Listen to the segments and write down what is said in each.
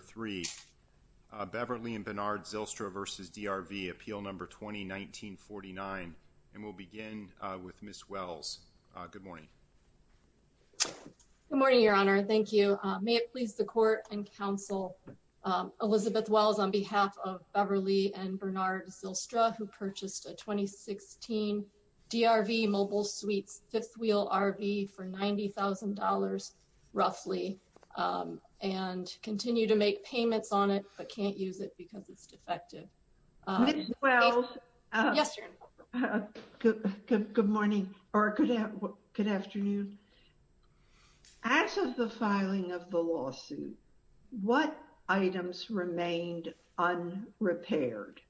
3. BEVERLY & BERNARD ZYLSTRA v. DRV Appeal No. 20-1949 We'll begin with Ms. Wells. Good morning. Good morning, Your Honor. Thank you. May it please the Court and Counsel, Elizabeth Wells, on behalf of Beverly and Bernard Zylstra, who purchased a 2016 DRV Mobile Suites Fifth Wheel RV for $90,000, roughly, and continue to make payments on it but can't use it because it's defective. Ms. Wells. Yes, Your Honor. Good morning, or good afternoon. As of the filing of the lawsuit, what items remained unrepaired?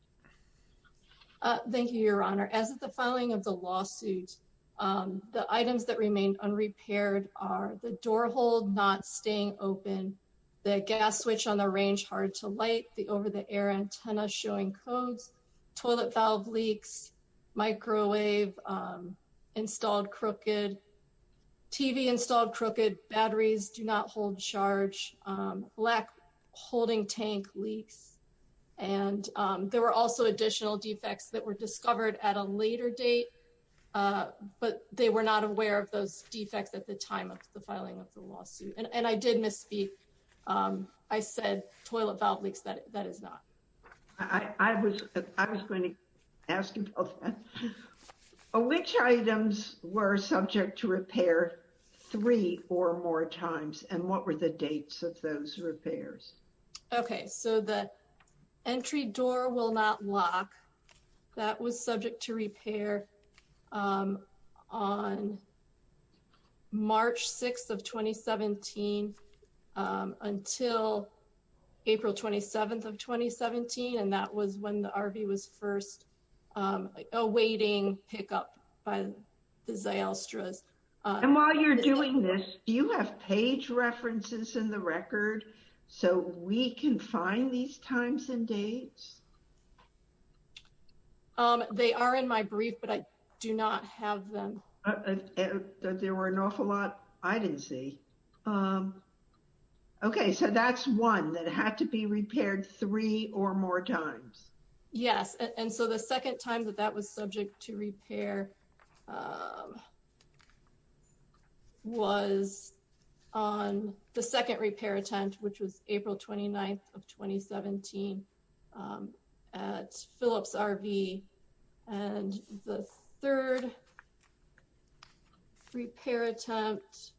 Thank you, Your Honor. As of the filing of the lawsuit, the items that remained unrepaired are the door hold not staying open, the gas switch on the range hard to light, the over-the-air antenna showing codes, toilet valve leaks, microwave installed crooked, TV installed crooked, batteries do not hold charge, black holding tank leaks, and there were also additional defects that were discovered at a later date, but they were not aware of those defects at the time of the filing of the lawsuit. And I did misspeak. I said toilet valve leaks. That is not. I was going to ask about that. Which items were subject to repair three or more times, and what were the dates of those repairs? Okay, so the entry door will not lock. That was subject to repair on March 6th of 2017 until April 27th of 2017, and that was when the RV was first awaiting pickup by the Zalstra's. And while you're doing this, do you have page references in the record so we can find these times and dates? They are in my brief, but I do not have them. There were an awful lot I didn't see. Okay, so that's one that had to be repaired three or more times. Yes, and so the second time that that was subject to repair was on the second repair attempt, which was April 29th of 2017 at Phillips RV, and the third repair attempt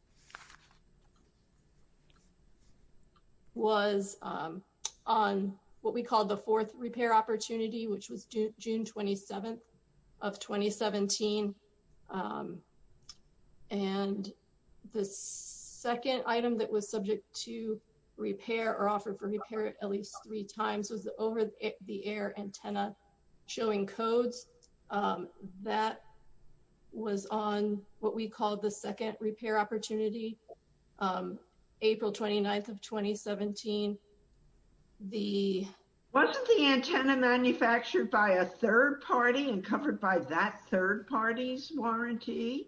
was on what we called the fourth repair opportunity, which was June 27th of 2017. And the second item that was subject to repair or offered for repair at least three times was the over-the-air antenna showing codes. That was on what we called the second repair opportunity, April 29th of 2017. Wasn't the antenna manufactured by a third party and covered by that third party's warranty?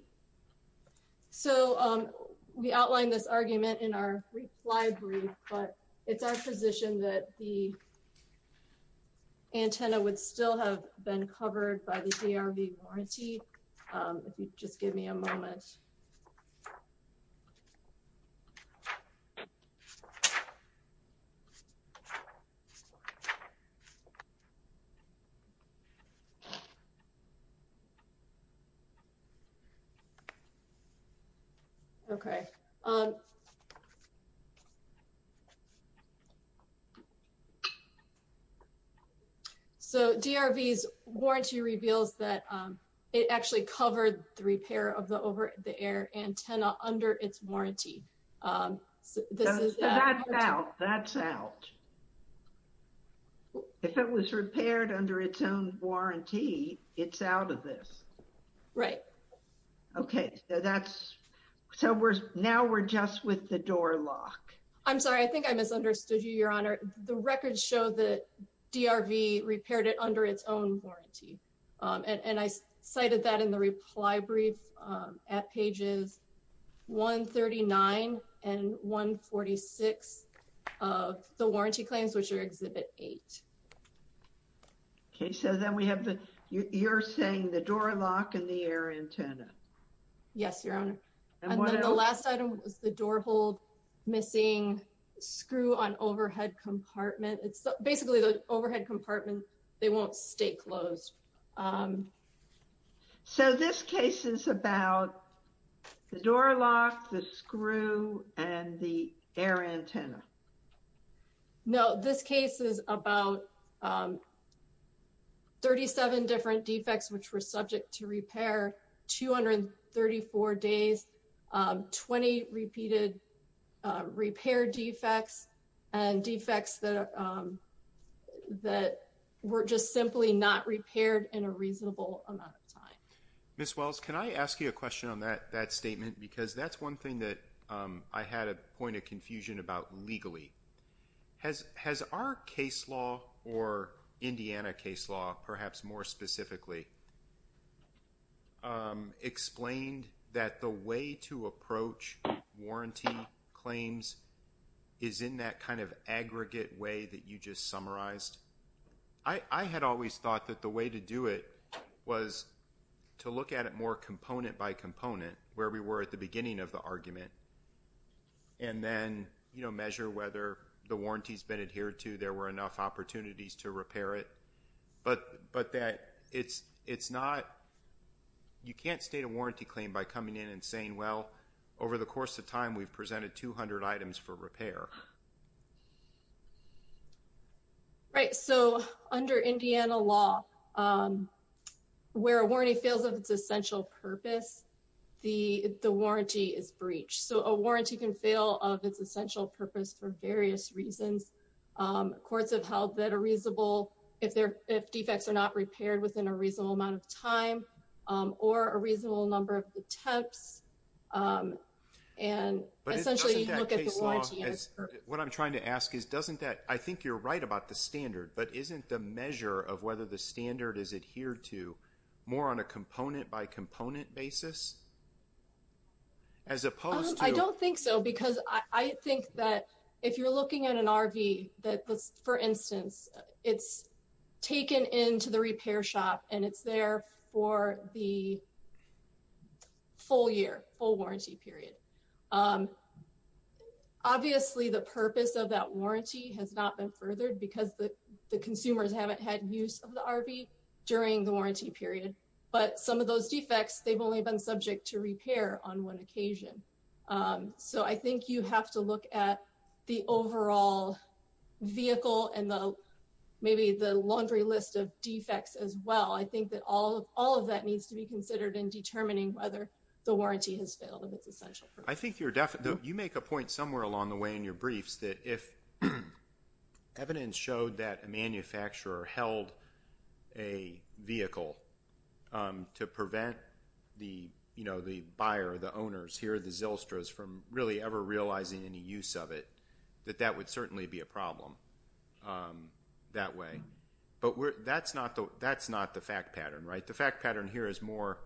So we outlined this argument in our reply brief, but it's our position that the antenna would still have been covered by the DRV warranty. Just give me a moment. Okay. Okay. So DRV's warranty reveals that it actually covered the repair of the over-the-air antenna under its warranty. That's out. That's out. If it was repaired under its own warranty, it's out of this. Right. Okay, so now we're just with the door lock. I'm sorry. I think I misunderstood you, Your Honor. The records show that DRV repaired it under its own warranty, and I cited that in the reply brief at pages 139 and 146 of the warranty claims, which are Exhibit 8. Okay, so then you're saying the door lock and the air antenna. Yes, Your Honor. And then the last item was the door hold missing screw on overhead compartment. It's basically the overhead compartment. They won't stay closed. So this case is about the door lock, the screw, and the air antenna. No, this case is about 37 different defects which were subject to repair, 234 days, 20 repeated repair defects and defects that were just simply not repaired in a reasonable amount of time. Ms. Wells, can I ask you a question on that statement? Because that's one thing that I had a point of confusion about legally. Has our case law or Indiana case law, perhaps more specifically, explained that the way to approach warranty claims is in that kind of aggregate way that you just summarized? I had always thought that the way to do it was to look at it more component by component, where we were at the beginning of the argument, and then, you know, measure whether the warranty's been adhered to, there were enough opportunities to repair it. But that it's not, you can't state a warranty claim by coming in and saying, well, over the course of time, we've presented 200 items for repair. Right, so under Indiana law, where a warranty fails of its essential purpose, the warranty is breached. So a warranty can fail of its essential purpose for various reasons. Courts have held that a reasonable, if defects are not repaired within a reasonable amount of time, or a reasonable number of attempts, and essentially look at the warranty. What I'm trying to ask is, doesn't that, I think you're right about the standard, but isn't the measure of whether the standard is adhered to more on a component by component basis? As opposed to- I don't think so, because I think that if you're looking at an RV that, for instance, it's taken into the repair shop, and it's there for the full year, full warranty period. Obviously, the purpose of that warranty has not been furthered, because the consumers haven't had use of the RV during the warranty period. But some of those defects, they've only been subject to repair on one occasion. So I think you have to look at the overall vehicle, and maybe the laundry list of defects as well. I think that all of that needs to be considered in determining whether the warranty has failed of its essential purpose. I think you make a point somewhere along the way in your briefs that if evidence showed that a manufacturer held a vehicle to prevent the buyer, the owners, here the Zylstras, from really ever realizing any use of it, that that would certainly be a problem that way. But that's not the fact pattern, right? The fact pattern here is more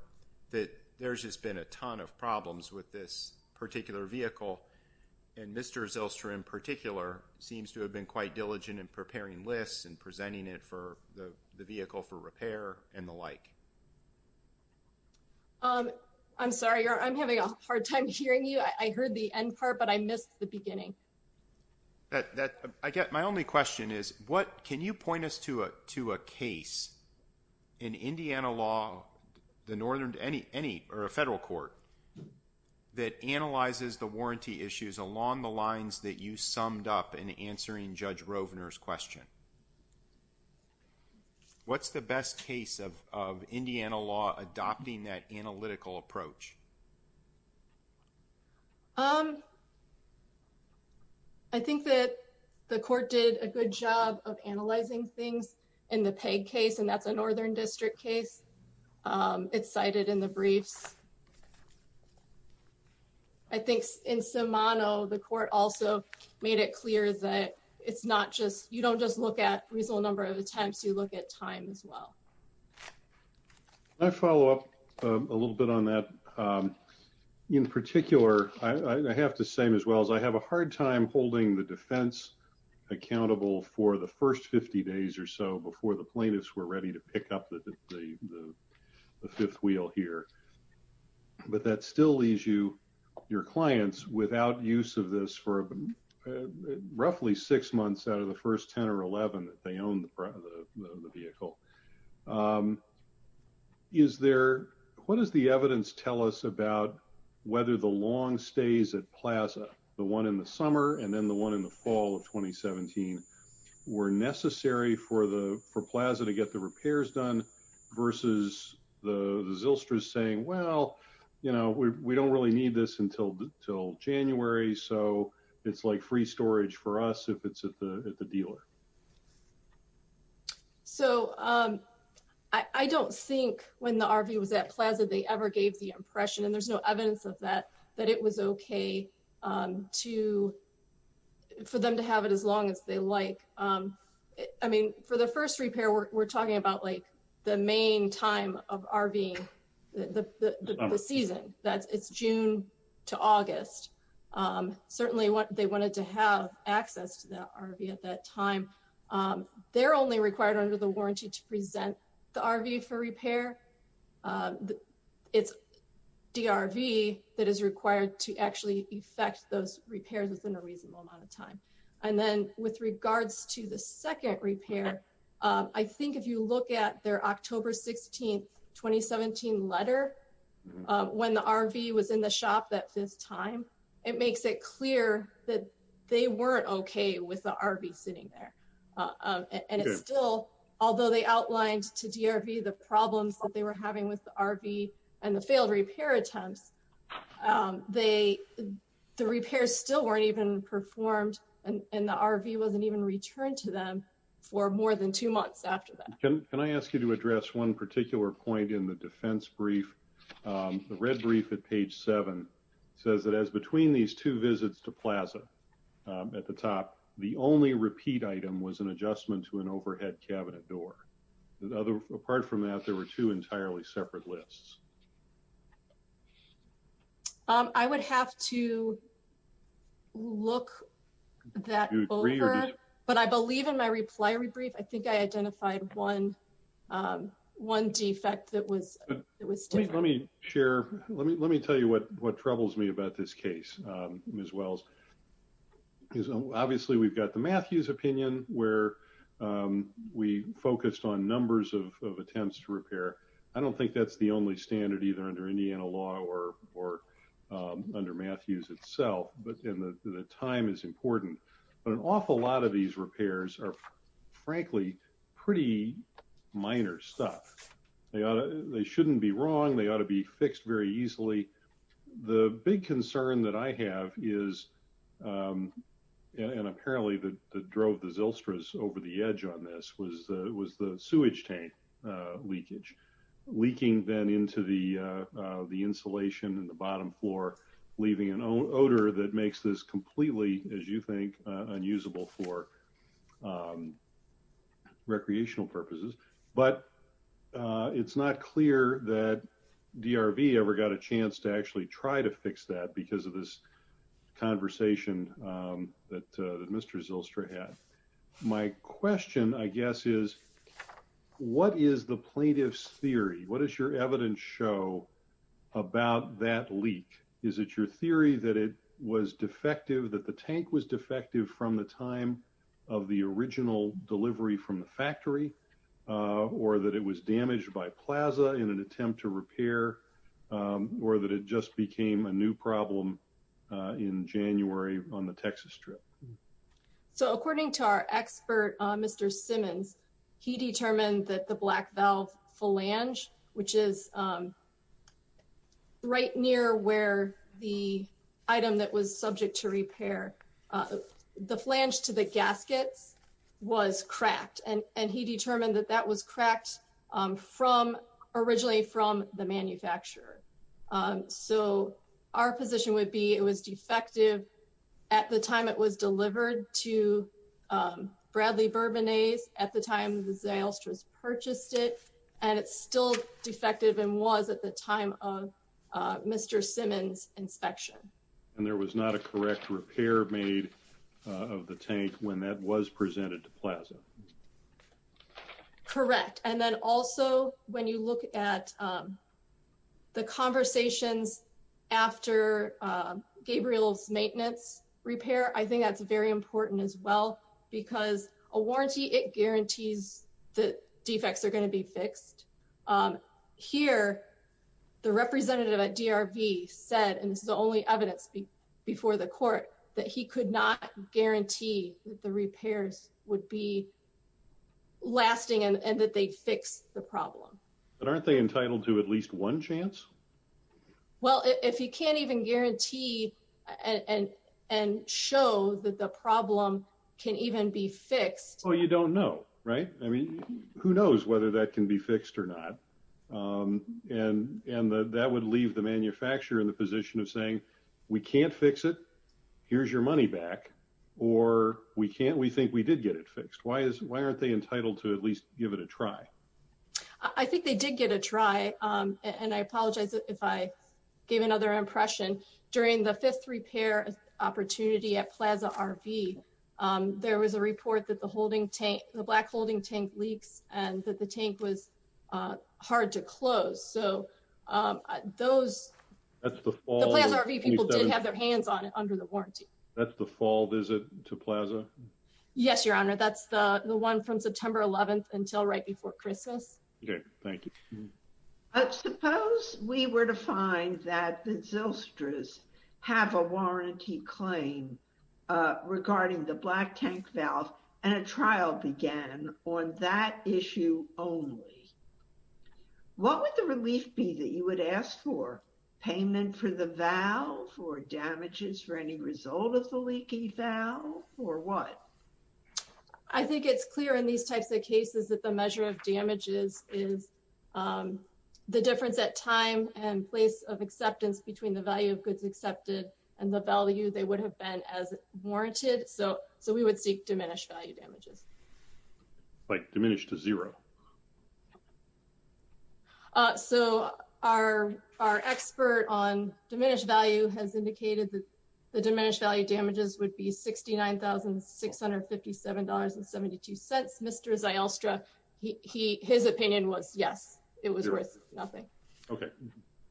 that there's just been a ton of problems with this particular vehicle, and Mr. Zylstra in particular seems to have been quite diligent in preparing lists and presenting it for the vehicle for repair and the like. I'm sorry. I'm having a hard time hearing you. I heard the end part, but I missed the beginning. My only question is, can you point us to a case in Indiana law or a federal court that analyzes the warranty issues along the lines that you summed up in answering Judge Rovner's question? What's the best case of Indiana law adopting that analytical approach? I think that the court did a good job of analyzing things in the Peg case, and that's a Northern District case. It's cited in the briefs. I think in Simano, the court also made it clear that you don't just look at reasonable number of attempts, you look at time as well. Can I follow up a little bit on that? In particular, I have to say as well, I have a hard time holding the defense accountable for the first 50 days or so before the plaintiffs were ready to pick up the fifth wheel here. But that still leaves your clients without use of this for roughly six months out of the first 10 or 11 that they own the vehicle. What does the evidence tell us about whether the long stays at Plaza, the one in the summer and then the one in the fall of 2017, were necessary for Plaza to get the repairs done versus the Zylstras saying, well, we don't really need this until January, so it's like free storage for us if it's at the dealer. I don't think when the RV was at Plaza they ever gave the impression, and there's no evidence of that, that it was okay for them to have it as long as they like. For the first repair, we're talking about the main time of RVing, the season. It's June to August. Certainly, they wanted to have access to that RV at that time. They're only required under the warranty to present the RV for repair. It's DRV that is required to actually affect those repairs within a reasonable amount of time. Then with regards to the second repair, I think if you look at their October 16th, 2017 letter, when the RV was in the shop at this time, it makes it clear that they weren't okay with the RV sitting there. It's still, although they outlined to DRV the problems that they were having with the RV and the failed repair attempts, the repairs still weren't even performed, and the RV wasn't even returned to them for more than two months after that. Can I ask you to address one particular point in the defense brief? The red brief at page 7 says that as between these two visits to Plaza at the top, the only repeat item was an adjustment to an overhead cabinet door. Apart from that, there were two entirely separate lists. I would have to look that over, but I believe in my reply rebrief, I think I identified one defect that was still there. Let me tell you what troubles me about this case, Ms. Wells. Obviously, we've got the Matthews opinion where we focused on numbers of attempts to repair. I don't think that's the only standard either under Indiana law or under Matthews itself. The time is important, but an awful lot of these repairs are frankly pretty minor stuff. They shouldn't be wrong. They ought to be fixed very easily. The big concern that I have is, and apparently that drove the Zylstras over the edge on this, was the sewage tank leakage. Leaking then into the insulation in the bottom floor, leaving an odor that makes this completely, as you think, unusable for recreational purposes. But it's not clear that DRV ever got a chance to actually try to fix that because of this conversation that Mr. Zylstra had. My question, I guess, is what is the plaintiff's theory? What does your evidence show about that leak? Is it your theory that it was defective, that the tank was defective from the time of the original delivery from the factory, or that it was damaged by Plaza in an attempt to repair, or that it just became a new problem in January on the Texas trip? So according to our expert, Mr. Simmons, he determined that the black valve flange, which is right near where the item that was subject to repair, the flange to the gaskets was cracked. And he determined that that was cracked originally from the manufacturer. So our position would be it was defective at the time it was delivered to Bradley Bourbonnaise at the time the Zylstra's purchased it, and it's still defective and was at the time of Mr. Simmons' inspection. And there was not a correct repair made of the tank when that was presented to Plaza. Correct. And then also when you look at the conversations after Gabriel's maintenance repair, I think that's very important as well, because a warranty, Here, the representative at DRV said, and this is the only evidence before the court, that he could not guarantee that the repairs would be lasting and that they'd fix the problem. But aren't they entitled to at least one chance? Well, if you can't even guarantee and show that the problem can even be fixed. Oh, you don't know, right? I mean, who knows whether that can be fixed or not. And that would leave the manufacturer in the position of saying, we can't fix it. Here's your money back or we can't. We think we did get it fixed. Why is why aren't they entitled to at least give it a try? I think they did get a try. And I apologize if I gave another impression during the fifth repair opportunity at Plaza RV. There was a report that the holding tank, the black holding tank leaks and that the tank was hard to close. So those, the Plaza RV people did have their hands on it under the warranty. That's the fall visit to Plaza? Yes, Your Honor. That's the one from September 11th until right before Christmas. Okay, thank you. Suppose we were to find that the Zylstras have a warranty claim regarding the black tank valve and a trial began on that issue only. What would the relief be that you would ask for? Payment for the valve or damages for any result of the leaky valve or what? I think it's clear in these types of cases that the measure of damages is the difference at time and place of acceptance between the value of goods accepted and the value they would have been as warranted. So we would seek diminished value damages. Like diminished to zero? So our expert on diminished value has indicated that the diminished value damages would be $69,657.72. Mr. Zylstra, his opinion was yes. It was worth nothing. Okay.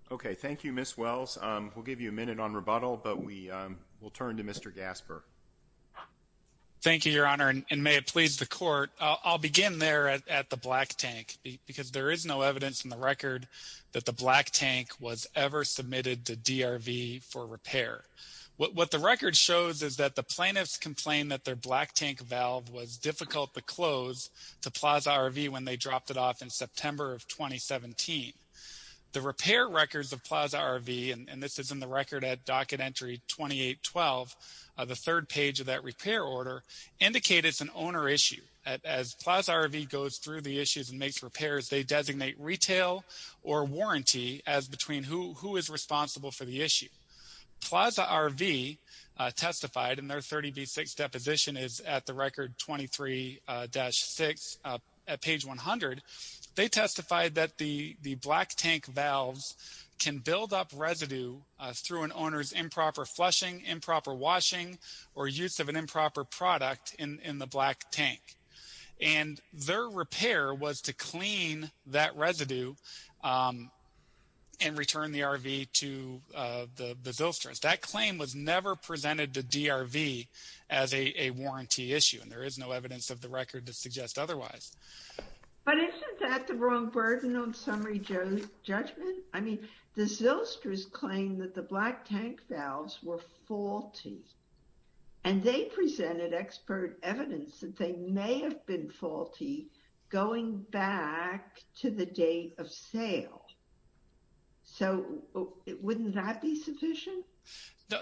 Okay, thank you, Ms. Wells. We'll give you a minute on rebuttal, but we will turn to Mr. Gasper. Thank you, Your Honor, and may it please the court. I'll begin there at the black tank because there is no evidence in the record that the black tank was ever submitted to DRV for repair. What the record shows is that the plaintiffs complained that their black tank valve was difficult to close to Plaza RV when they dropped it off in September of 2017. The repair records of Plaza RV, and this is in the record at docket entry 2812, the third page of that repair order, indicate it's an owner issue. As Plaza RV goes through the issues and makes repairs, they designate retail or warranty as between who is responsible for the issue. Plaza RV testified, and their 30B6 deposition is at the record 23-6 at page 100. They testified that the black tank valves can build up residue through an owner's improper flushing, improper washing, or use of an improper product in the black tank. And their repair was to clean that residue and return the RV to the Zillsters. That claim was never presented to DRV as a warranty issue, and there is no evidence of the record to suggest otherwise. But isn't that the wrong burden on summary judgment? I mean, the Zillsters claim that the black tank valves were faulty, and they presented expert evidence that they may have been faulty going back to the date of sale. So, wouldn't that be sufficient?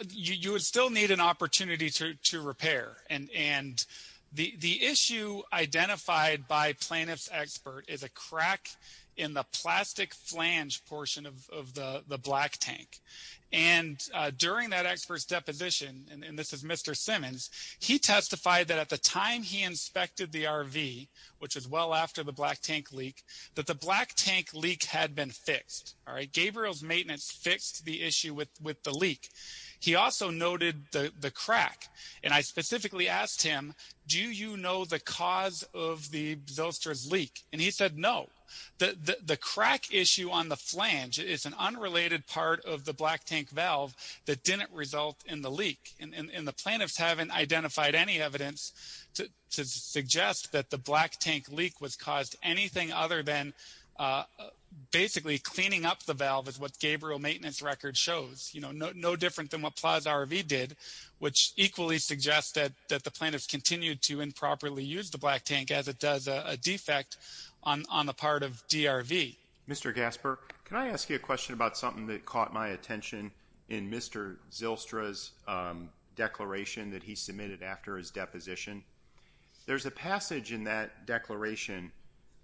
You would still need an opportunity to repair. And the issue identified by plaintiff's expert is a crack in the plastic flange portion of the black tank. And during that expert's deposition, and this is Mr. Simmons, he testified that at the time he inspected the RV, which was well after the black tank leak, that the black tank leak had been fixed. Gabriel's maintenance fixed the issue with the leak. He also noted the crack. And I specifically asked him, do you know the cause of the Zillsters leak? And he said no. The crack issue on the flange is an unrelated part of the black tank valve that didn't result in the leak. And the plaintiffs haven't identified any evidence to suggest that the black tank leak was caused anything other than basically cleaning up the valve is what Gabriel's maintenance record shows. You know, no different than what Plaza RV did, which equally suggests that the plaintiffs continued to improperly use the black tank as it does a defect on the part of DRV. Mr. Gasper, can I ask you a question about something that caught my attention in Mr. Zillstra's declaration that he submitted after his deposition? There's a passage in that declaration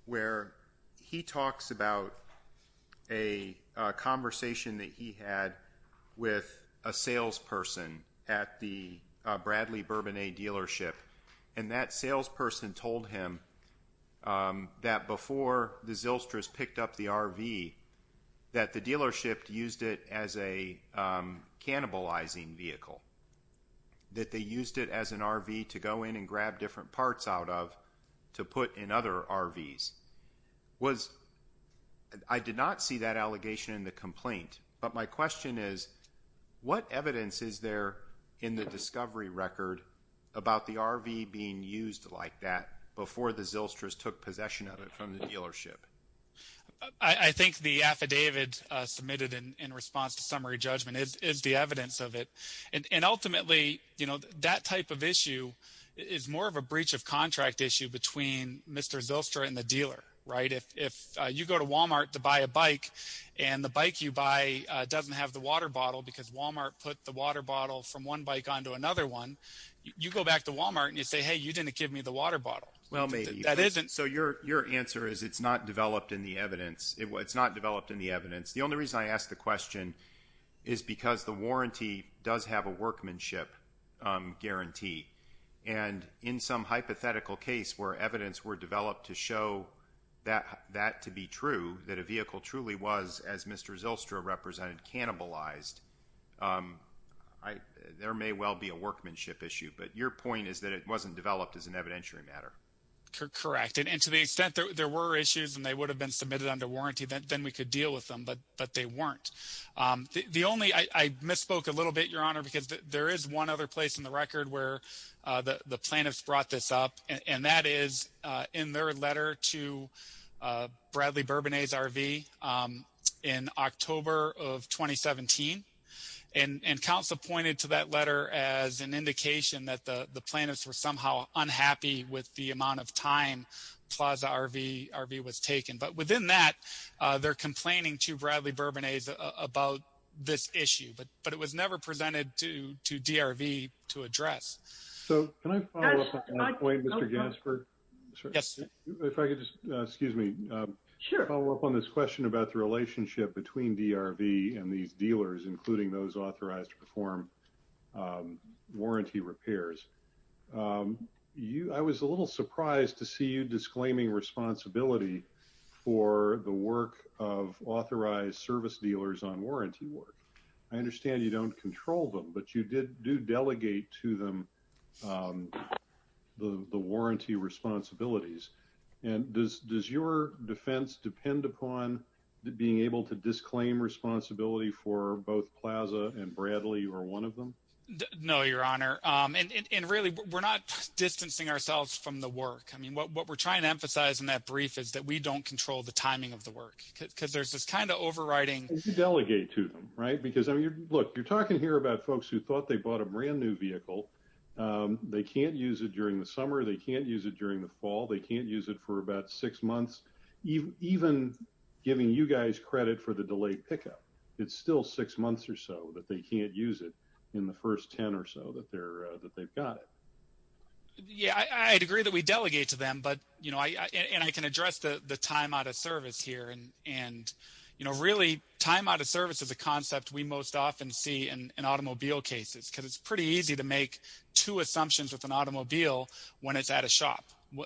where he talks about a conversation that he had with a salesperson at the Bradley Bourbonnet dealership. And that salesperson told him that before the Zillstras picked up the RV, that the dealership used it as a cannibalizing vehicle. That they used it as an RV to go in and grab different parts out of to put in other RVs. I did not see that allegation in the complaint. But my question is, what evidence is there in the discovery record about the RV being used like that before the Zillstras took possession of it from the dealership? I think the affidavit submitted in response to summary judgment is the evidence of it. And ultimately, you know, that type of issue is more of a breach of contract issue between Mr. Zillstra and the dealer, right? If you go to Walmart to buy a bike and the bike you buy doesn't have the water bottle because Walmart put the water bottle from one bike onto another one, you go back to Walmart and you say, hey, you didn't give me the water bottle. Well, maybe. That isn't. So your answer is it's not developed in the evidence. It's not developed in the evidence. The only reason I ask the question is because the warranty does have a workmanship guarantee. And in some hypothetical case where evidence were developed to show that to be true, that a vehicle truly was, as Mr. Zillstra represented, cannibalized, there may well be a workmanship issue. But your point is that it wasn't developed as an evidentiary matter. Correct. And to the extent there were issues and they would have been submitted under warranty, then we could deal with them. But they weren't. The only ‑‑ I misspoke a little bit, Your Honor, because there is one other place in the record where the plaintiffs brought this up, and that is in their letter to Bradley Bourbonnet's RV in October of 2017. And counsel pointed to that letter as an indication that the plaintiffs were somehow unhappy with the amount of time Plaza RV was taken. But within that, they're complaining to Bradley Bourbonnet's about this issue. But it was never presented to DRV to address. So can I follow up on that point, Mr. Gaspard? Yes. If I could just ‑‑ excuse me. Sure. Follow up on this question about the relationship between DRV and these dealers, including those authorized to perform warranty repairs. I was a little surprised to see you disclaiming responsibility for the work of authorized service dealers on warranty work. I understand you don't control them, but you do delegate to them the warranty responsibilities. And does your defense depend upon being able to disclaim responsibility for both Plaza and Bradley, or one of them? No, Your Honor. And really, we're not distancing ourselves from the work. I mean, what we're trying to emphasize in that brief is that we don't control the timing of the work, because there's this kind of overriding ‑‑ look, you're talking here about folks who thought they bought a brand new vehicle. They can't use it during the summer. They can't use it during the fall. They can't use it for about six months, even giving you guys credit for the delayed pickup. It's still six months or so that they can't use it in the first ten or so that they've got it. Yeah, I'd agree that we delegate to them. And I can address the time out of service here. Really, time out of service is a concept we most often see in automobile cases, because it's pretty easy to make two assumptions with an automobile when it's at a shop.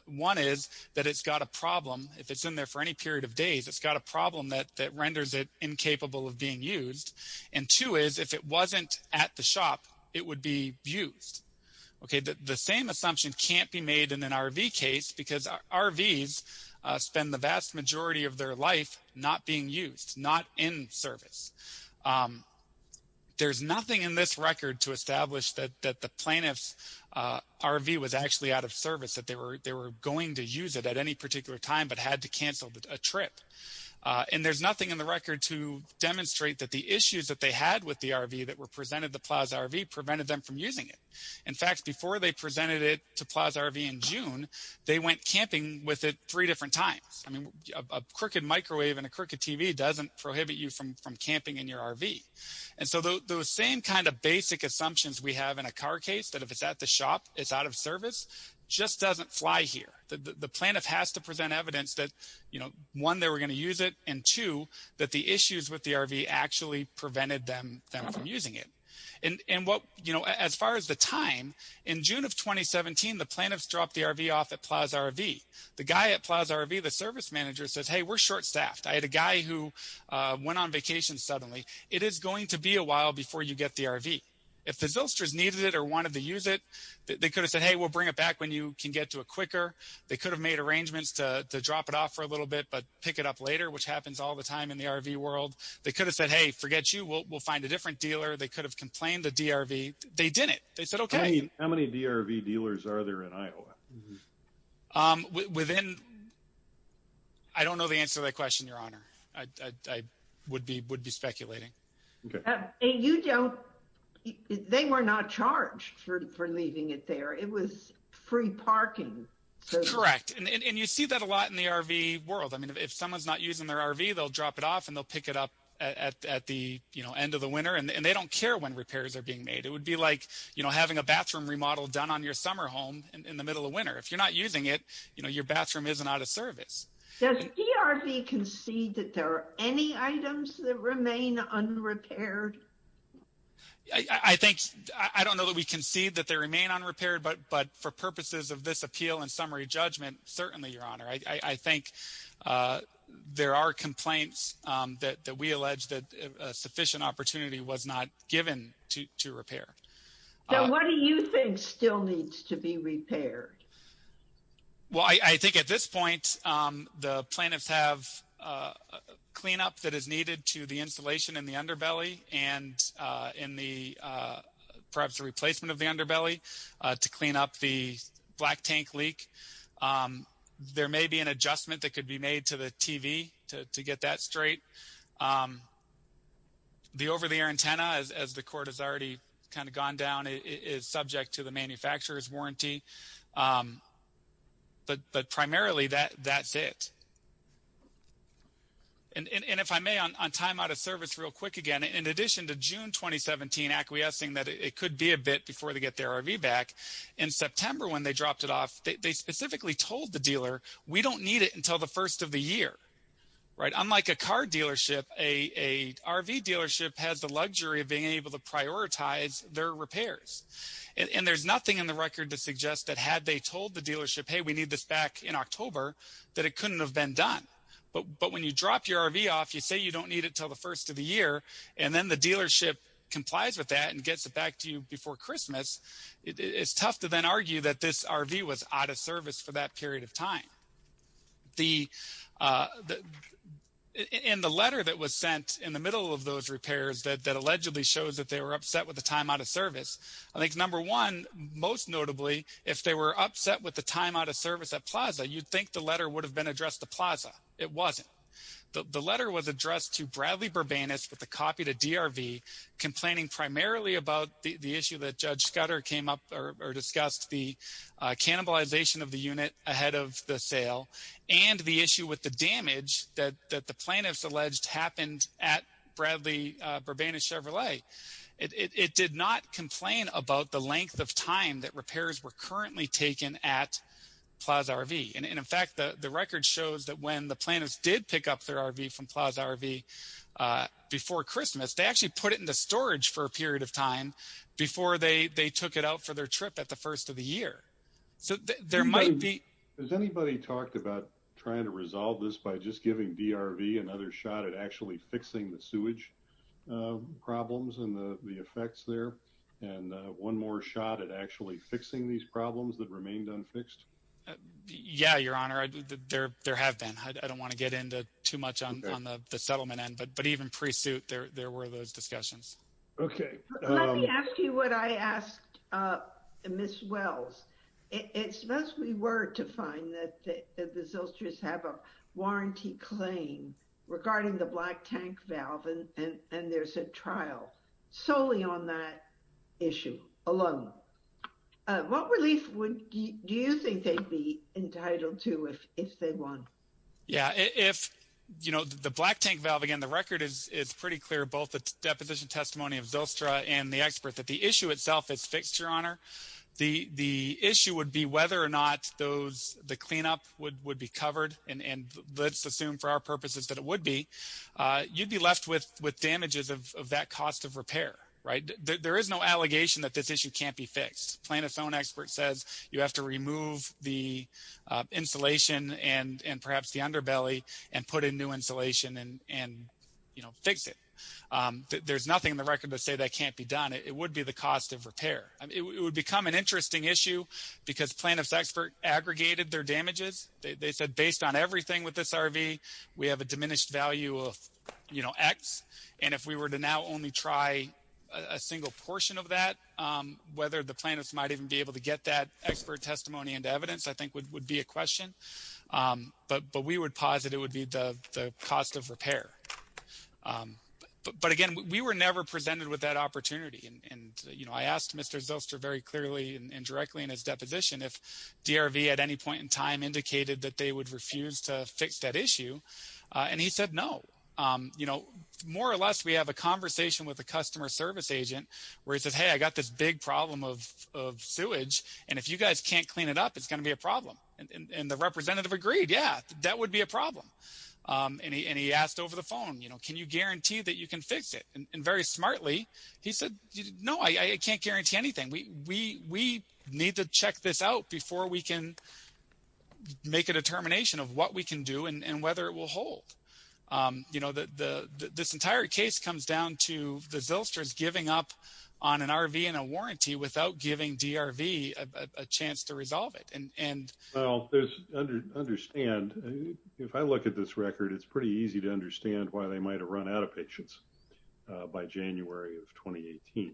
One is that it's got a problem. If it's in there for any period of days, it's got a problem that renders it incapable of being used. And two is, if it wasn't at the shop, it would be used. The same assumption can't be made in an RV case, because RVs spend the vast majority of their life not being used, not in service. There's nothing in this record to establish that the plaintiff's RV was actually out of service, that they were going to use it at any particular time but had to cancel a trip. And there's nothing in the record to demonstrate that the issues that they had with the RV that were presented to Plaza RV prevented them from using it. In fact, before they presented it to Plaza RV in June, they went camping with it three different times. I mean, a crooked microwave and a crooked TV doesn't prohibit you from camping in your RV. And so those same kind of basic assumptions we have in a car case, that if it's at the shop, it's out of service, just doesn't fly here. The plaintiff has to present evidence that, you know, one, they were going to use it, and two, that the issues with the RV actually prevented them from using it. And what, you know, as far as the time, in June of 2017, the plaintiffs dropped the RV off at Plaza RV. The guy at Plaza RV, the service manager, says, hey, we're short-staffed. I had a guy who went on vacation suddenly. It is going to be a while before you get the RV. If the Zylsters needed it or wanted to use it, they could have said, hey, we'll bring it back when you can get to it quicker. They could have made arrangements to drop it off for a little bit but pick it up later, which happens all the time in the RV world. They could have said, hey, forget you, we'll find a different dealer. They could have complained to DRV. They didn't. They said, okay. I mean, how many DRV dealers are there in Iowa? Within – I don't know the answer to that question, Your Honor. I would be speculating. And you don't – they were not charged for leaving it there. It was free parking. Correct. And you see that a lot in the RV world. I mean, if someone is not using their RV, they'll drop it off and they'll pick it up at the end of the winter, and they don't care when repairs are being made. It would be like having a bathroom remodel done on your summer home in the middle of winter. If you're not using it, your bathroom isn't out of service. Does DRV concede that there are any items that remain unrepaired? I think – I don't know that we concede that they remain unrepaired, I think there are complaints that we allege that sufficient opportunity was not given to repair. So what do you think still needs to be repaired? Well, I think at this point the plaintiffs have cleanup that is needed to the insulation in the underbelly and in the – perhaps a replacement of the underbelly to clean up the black tank leak. There may be an adjustment that could be made to the TV to get that straight. The over-the-air antenna, as the court has already kind of gone down, is subject to the manufacturer's warranty. But primarily that's it. And if I may, on time out of service real quick again, in addition to June 2017 acquiescing that it could be a bit before they get their RV back, in September when they dropped it off, they specifically told the dealer, we don't need it until the first of the year. Unlike a car dealership, an RV dealership has the luxury of being able to prioritize their repairs. And there's nothing in the record that suggests that had they told the dealership, hey, we need this back in October, that it couldn't have been done. But when you drop your RV off, you say you don't need it until the first of the year, and then the dealership complies with that and gets it back to you before Christmas, it's tough to then argue that this RV was out of service for that period of time. In the letter that was sent in the middle of those repairs that allegedly shows that they were upset with the time out of service, I think number one, most notably, if they were upset with the time out of service at Plaza, you'd think the letter would have been addressed to Plaza. It wasn't. The letter was addressed to Bradley Burbanis with a copy to DRV, complaining primarily about the issue that Judge Scudder came up or discussed the cannibalization of the unit ahead of the sale and the issue with the damage that the plaintiffs alleged happened at Bradley Burbanis Chevrolet. It did not complain about the length of time that repairs were currently taken at Plaza RV. And, in fact, the record shows that when the plaintiffs did pick up their RV from Plaza RV before Christmas, they actually put it into storage for a period of time before they took it out for their trip at the first of the year. So there might be. Has anybody talked about trying to resolve this by just giving DRV another shot at actually fixing the sewage problems and the effects there? And one more shot at actually fixing these problems that remained unfixed? Yeah, Your Honor, there have been. I don't want to get into too much on the settlement end. But even pre-suit, there were those discussions. Okay. Let me ask you what I asked Ms. Wells. It must be word to find that the Zilchers have a warranty claim regarding the black tank valve, and there's a trial solely on that issue alone. What relief do you think they'd be entitled to if they won? Yeah, if, you know, the black tank valve, again, the record is pretty clear, both the deposition testimony of Zylstra and the expert, that the issue itself is fixed, Your Honor. The issue would be whether or not the cleanup would be covered. And let's assume for our purposes that it would be. You'd be left with damages of that cost of repair, right? And there is no allegation that this issue can't be fixed. Plaintiff's own expert says you have to remove the insulation and perhaps the underbelly and put in new insulation and, you know, fix it. There's nothing in the record to say that can't be done. It would be the cost of repair. It would become an interesting issue because plaintiff's expert aggregated their damages. They said based on everything with this RV, we have a diminished value of, you know, X. And if we were to now only try a single portion of that, whether the plaintiffs might even be able to get that expert testimony and evidence I think would be a question. But we would posit it would be the cost of repair. But, again, we were never presented with that opportunity. And, you know, I asked Mr. Zylstra very clearly and directly in his deposition if DRV at any point in time indicated that they would refuse to fix that issue. And he said no. You know, more or less we have a conversation with a customer service agent where he says, hey, I got this big problem of sewage, and if you guys can't clean it up, it's going to be a problem. And the representative agreed, yeah, that would be a problem. And he asked over the phone, you know, can you guarantee that you can fix it? And very smartly he said, no, I can't guarantee anything. We need to check this out before we can make a determination of what we can do and whether it will hold. You know, this entire case comes down to the Zylstras giving up on an RV and a warranty without giving DRV a chance to resolve it. Well, understand, if I look at this record, it's pretty easy to understand why they might have run out of patients by January of 2018.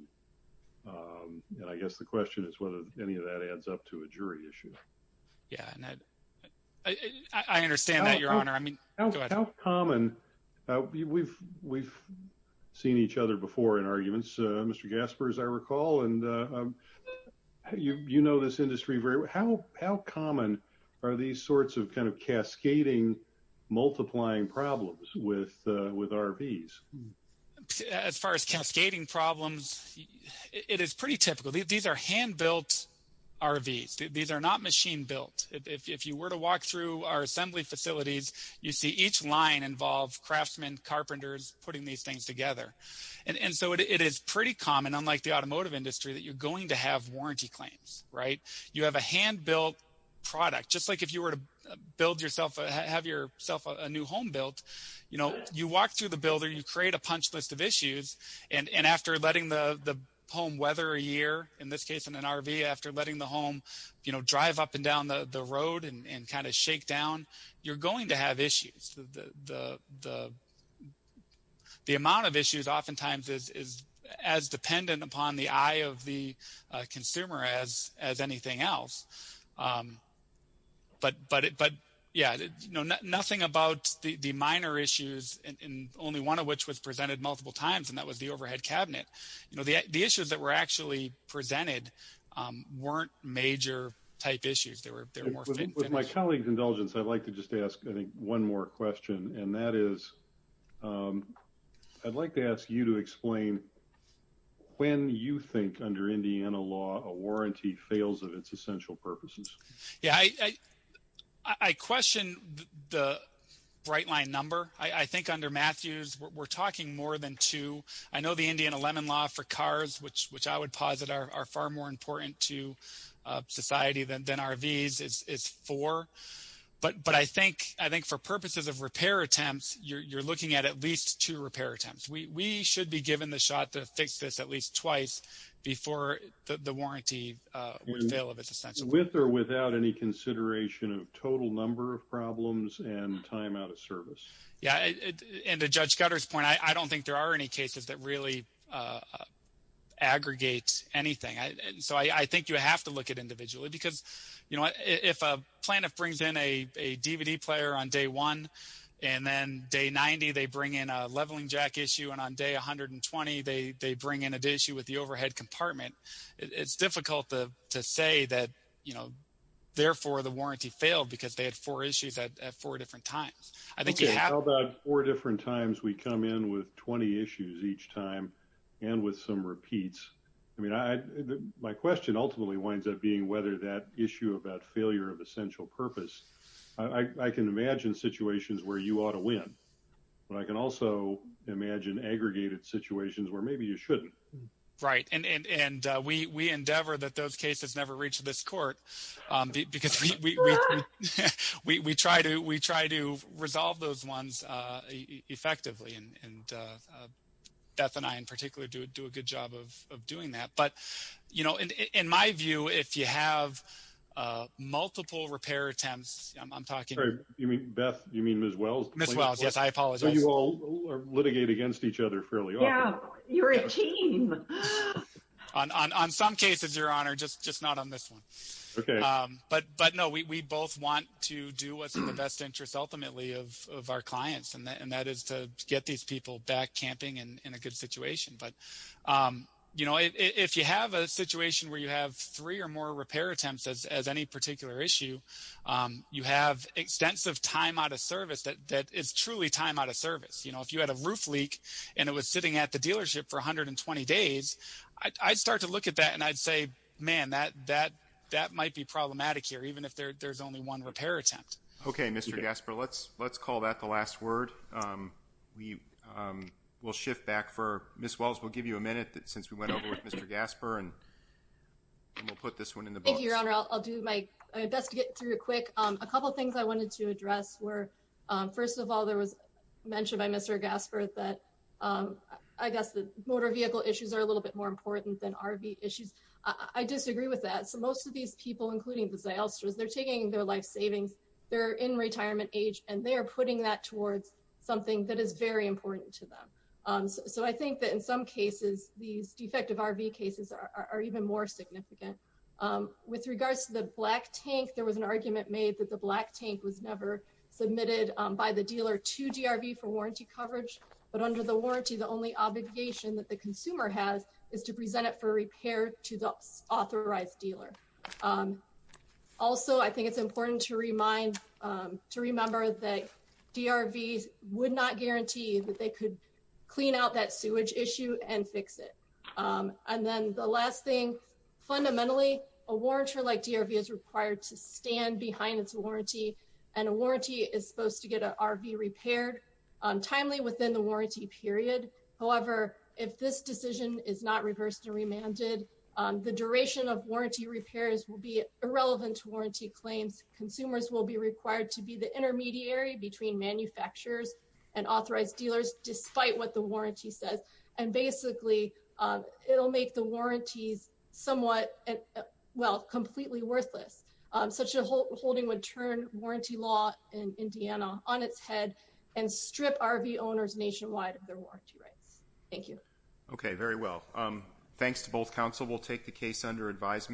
And I guess the question is whether any of that adds up to a jury issue. Yeah, I understand that, Your Honor. How common, we've seen each other before in arguments, Mr. Gasper, as I recall, and you know this industry very well. How common are these sorts of kind of cascading, multiplying problems with RVs? As far as cascading problems, it is pretty typical. These are hand-built RVs. These are not machine-built. If you were to walk through our assembly facilities, you see each line involve craftsmen, carpenters putting these things together. And so it is pretty common, unlike the automotive industry, that you're going to have warranty claims, right? You have a hand-built product. Just like if you were to build yourself, have yourself a new home built, you know, you walk through the builder, you create a punch list of issues. And after letting the home weather a year, in this case in an RV, after letting the home, you know, drive up and down the road and kind of shake down, you're going to have issues. The amount of issues oftentimes is as dependent upon the eye of the consumer as anything else. But, yeah, you know, nothing about the minor issues, and only one of which was presented multiple times, and that was the overhead cabinet. You know, the issues that were actually presented weren't major-type issues. They were more finished. With my colleague's indulgence, I'd like to just ask, I think, one more question, and that is I'd like to ask you to explain when you think, under Indiana law, a warranty fails of its essential purposes. Yeah, I question the bright-line number. I think under Matthews, we're talking more than two. I know the Indiana Lemon Law for cars, which I would posit are far more important to society than RVs, is four. But I think for purposes of repair attempts, you're looking at at least two repair attempts. We should be given the shot to fix this at least twice before the warranty would fail of its essential purpose. With or without any consideration of total number of problems and time out of service? Yeah, and to Judge Cutter's point, I don't think there are any cases that really aggregate anything. So I think you have to look at individually because, you know, if a plaintiff brings in a DVD player on day one, and then day 90 they bring in a leveling jack issue, and on day 120 they bring in an issue with the overhead compartment, it's difficult to say that, you know, therefore the warranty failed because they had four issues at four different times. How about four different times we come in with 20 issues each time and with some repeats? I mean, my question ultimately winds up being whether that issue about failure of essential purpose, I can imagine situations where you ought to win. But I can also imagine aggregated situations where maybe you shouldn't. Right, and we endeavor that those cases never reach this court because we try to resolve those ones effectively. And Beth and I in particular do a good job of doing that. But, you know, in my view, if you have multiple repair attempts, I'm talking... So you all litigate against each other fairly often. Yeah, you're a team. On some cases, Your Honor, just not on this one. Okay. But no, we both want to do what's in the best interest ultimately of our clients, and that is to get these people back camping and in a good situation. But, you know, if you have a situation where you have three or more repair attempts as any particular issue, you have extensive time out of service that is truly time out of service. You know, if you had a roof leak and it was sitting at the dealership for 120 days, I'd start to look at that and I'd say, man, that might be problematic here, even if there's only one repair attempt. Okay, Mr. Gasper, let's call that the last word. We'll shift back for Ms. Wells. We'll give you a minute since we went over with Mr. Gasper and we'll put this one in the books. Thank you, Your Honor. I'll do my best to get through it quick. A couple of things I wanted to address were, first of all, there was mention by Mr. Gasper that I guess the motor vehicle issues are a little bit more important than RV issues. I disagree with that. So most of these people, including the Zylstras, they're taking their life savings, they're in retirement age, and they are putting that towards something that is very important to them. So I think that in some cases, these defective RV cases are even more significant. With regards to the black tank, there was an argument made that the black tank was never submitted by the dealer to DRV for warranty coverage. But under the warranty, the only obligation that the consumer has is to present it for repair to the authorized dealer. Also, I think it's important to remember that DRVs would not guarantee that they could clean out that sewage issue and fix it. And then the last thing, fundamentally, a warrantor like DRV is required to stand behind its warranty, and a warranty is supposed to get an RV repaired timely within the warranty period. However, if this decision is not reversed and remanded, the duration of warranty repairs will be irrelevant to warranty claims. Consumers will be required to be the intermediary between manufacturers and authorized dealers, despite what the warranty says. And basically, it'll make the warranties somewhat, well, completely worthless. Such a holding would turn warranty law in Indiana on its head and strip RV owners nationwide of their warranty rights. Thank you. Okay, very well. Thanks to both counsel. We'll take the case under advisement.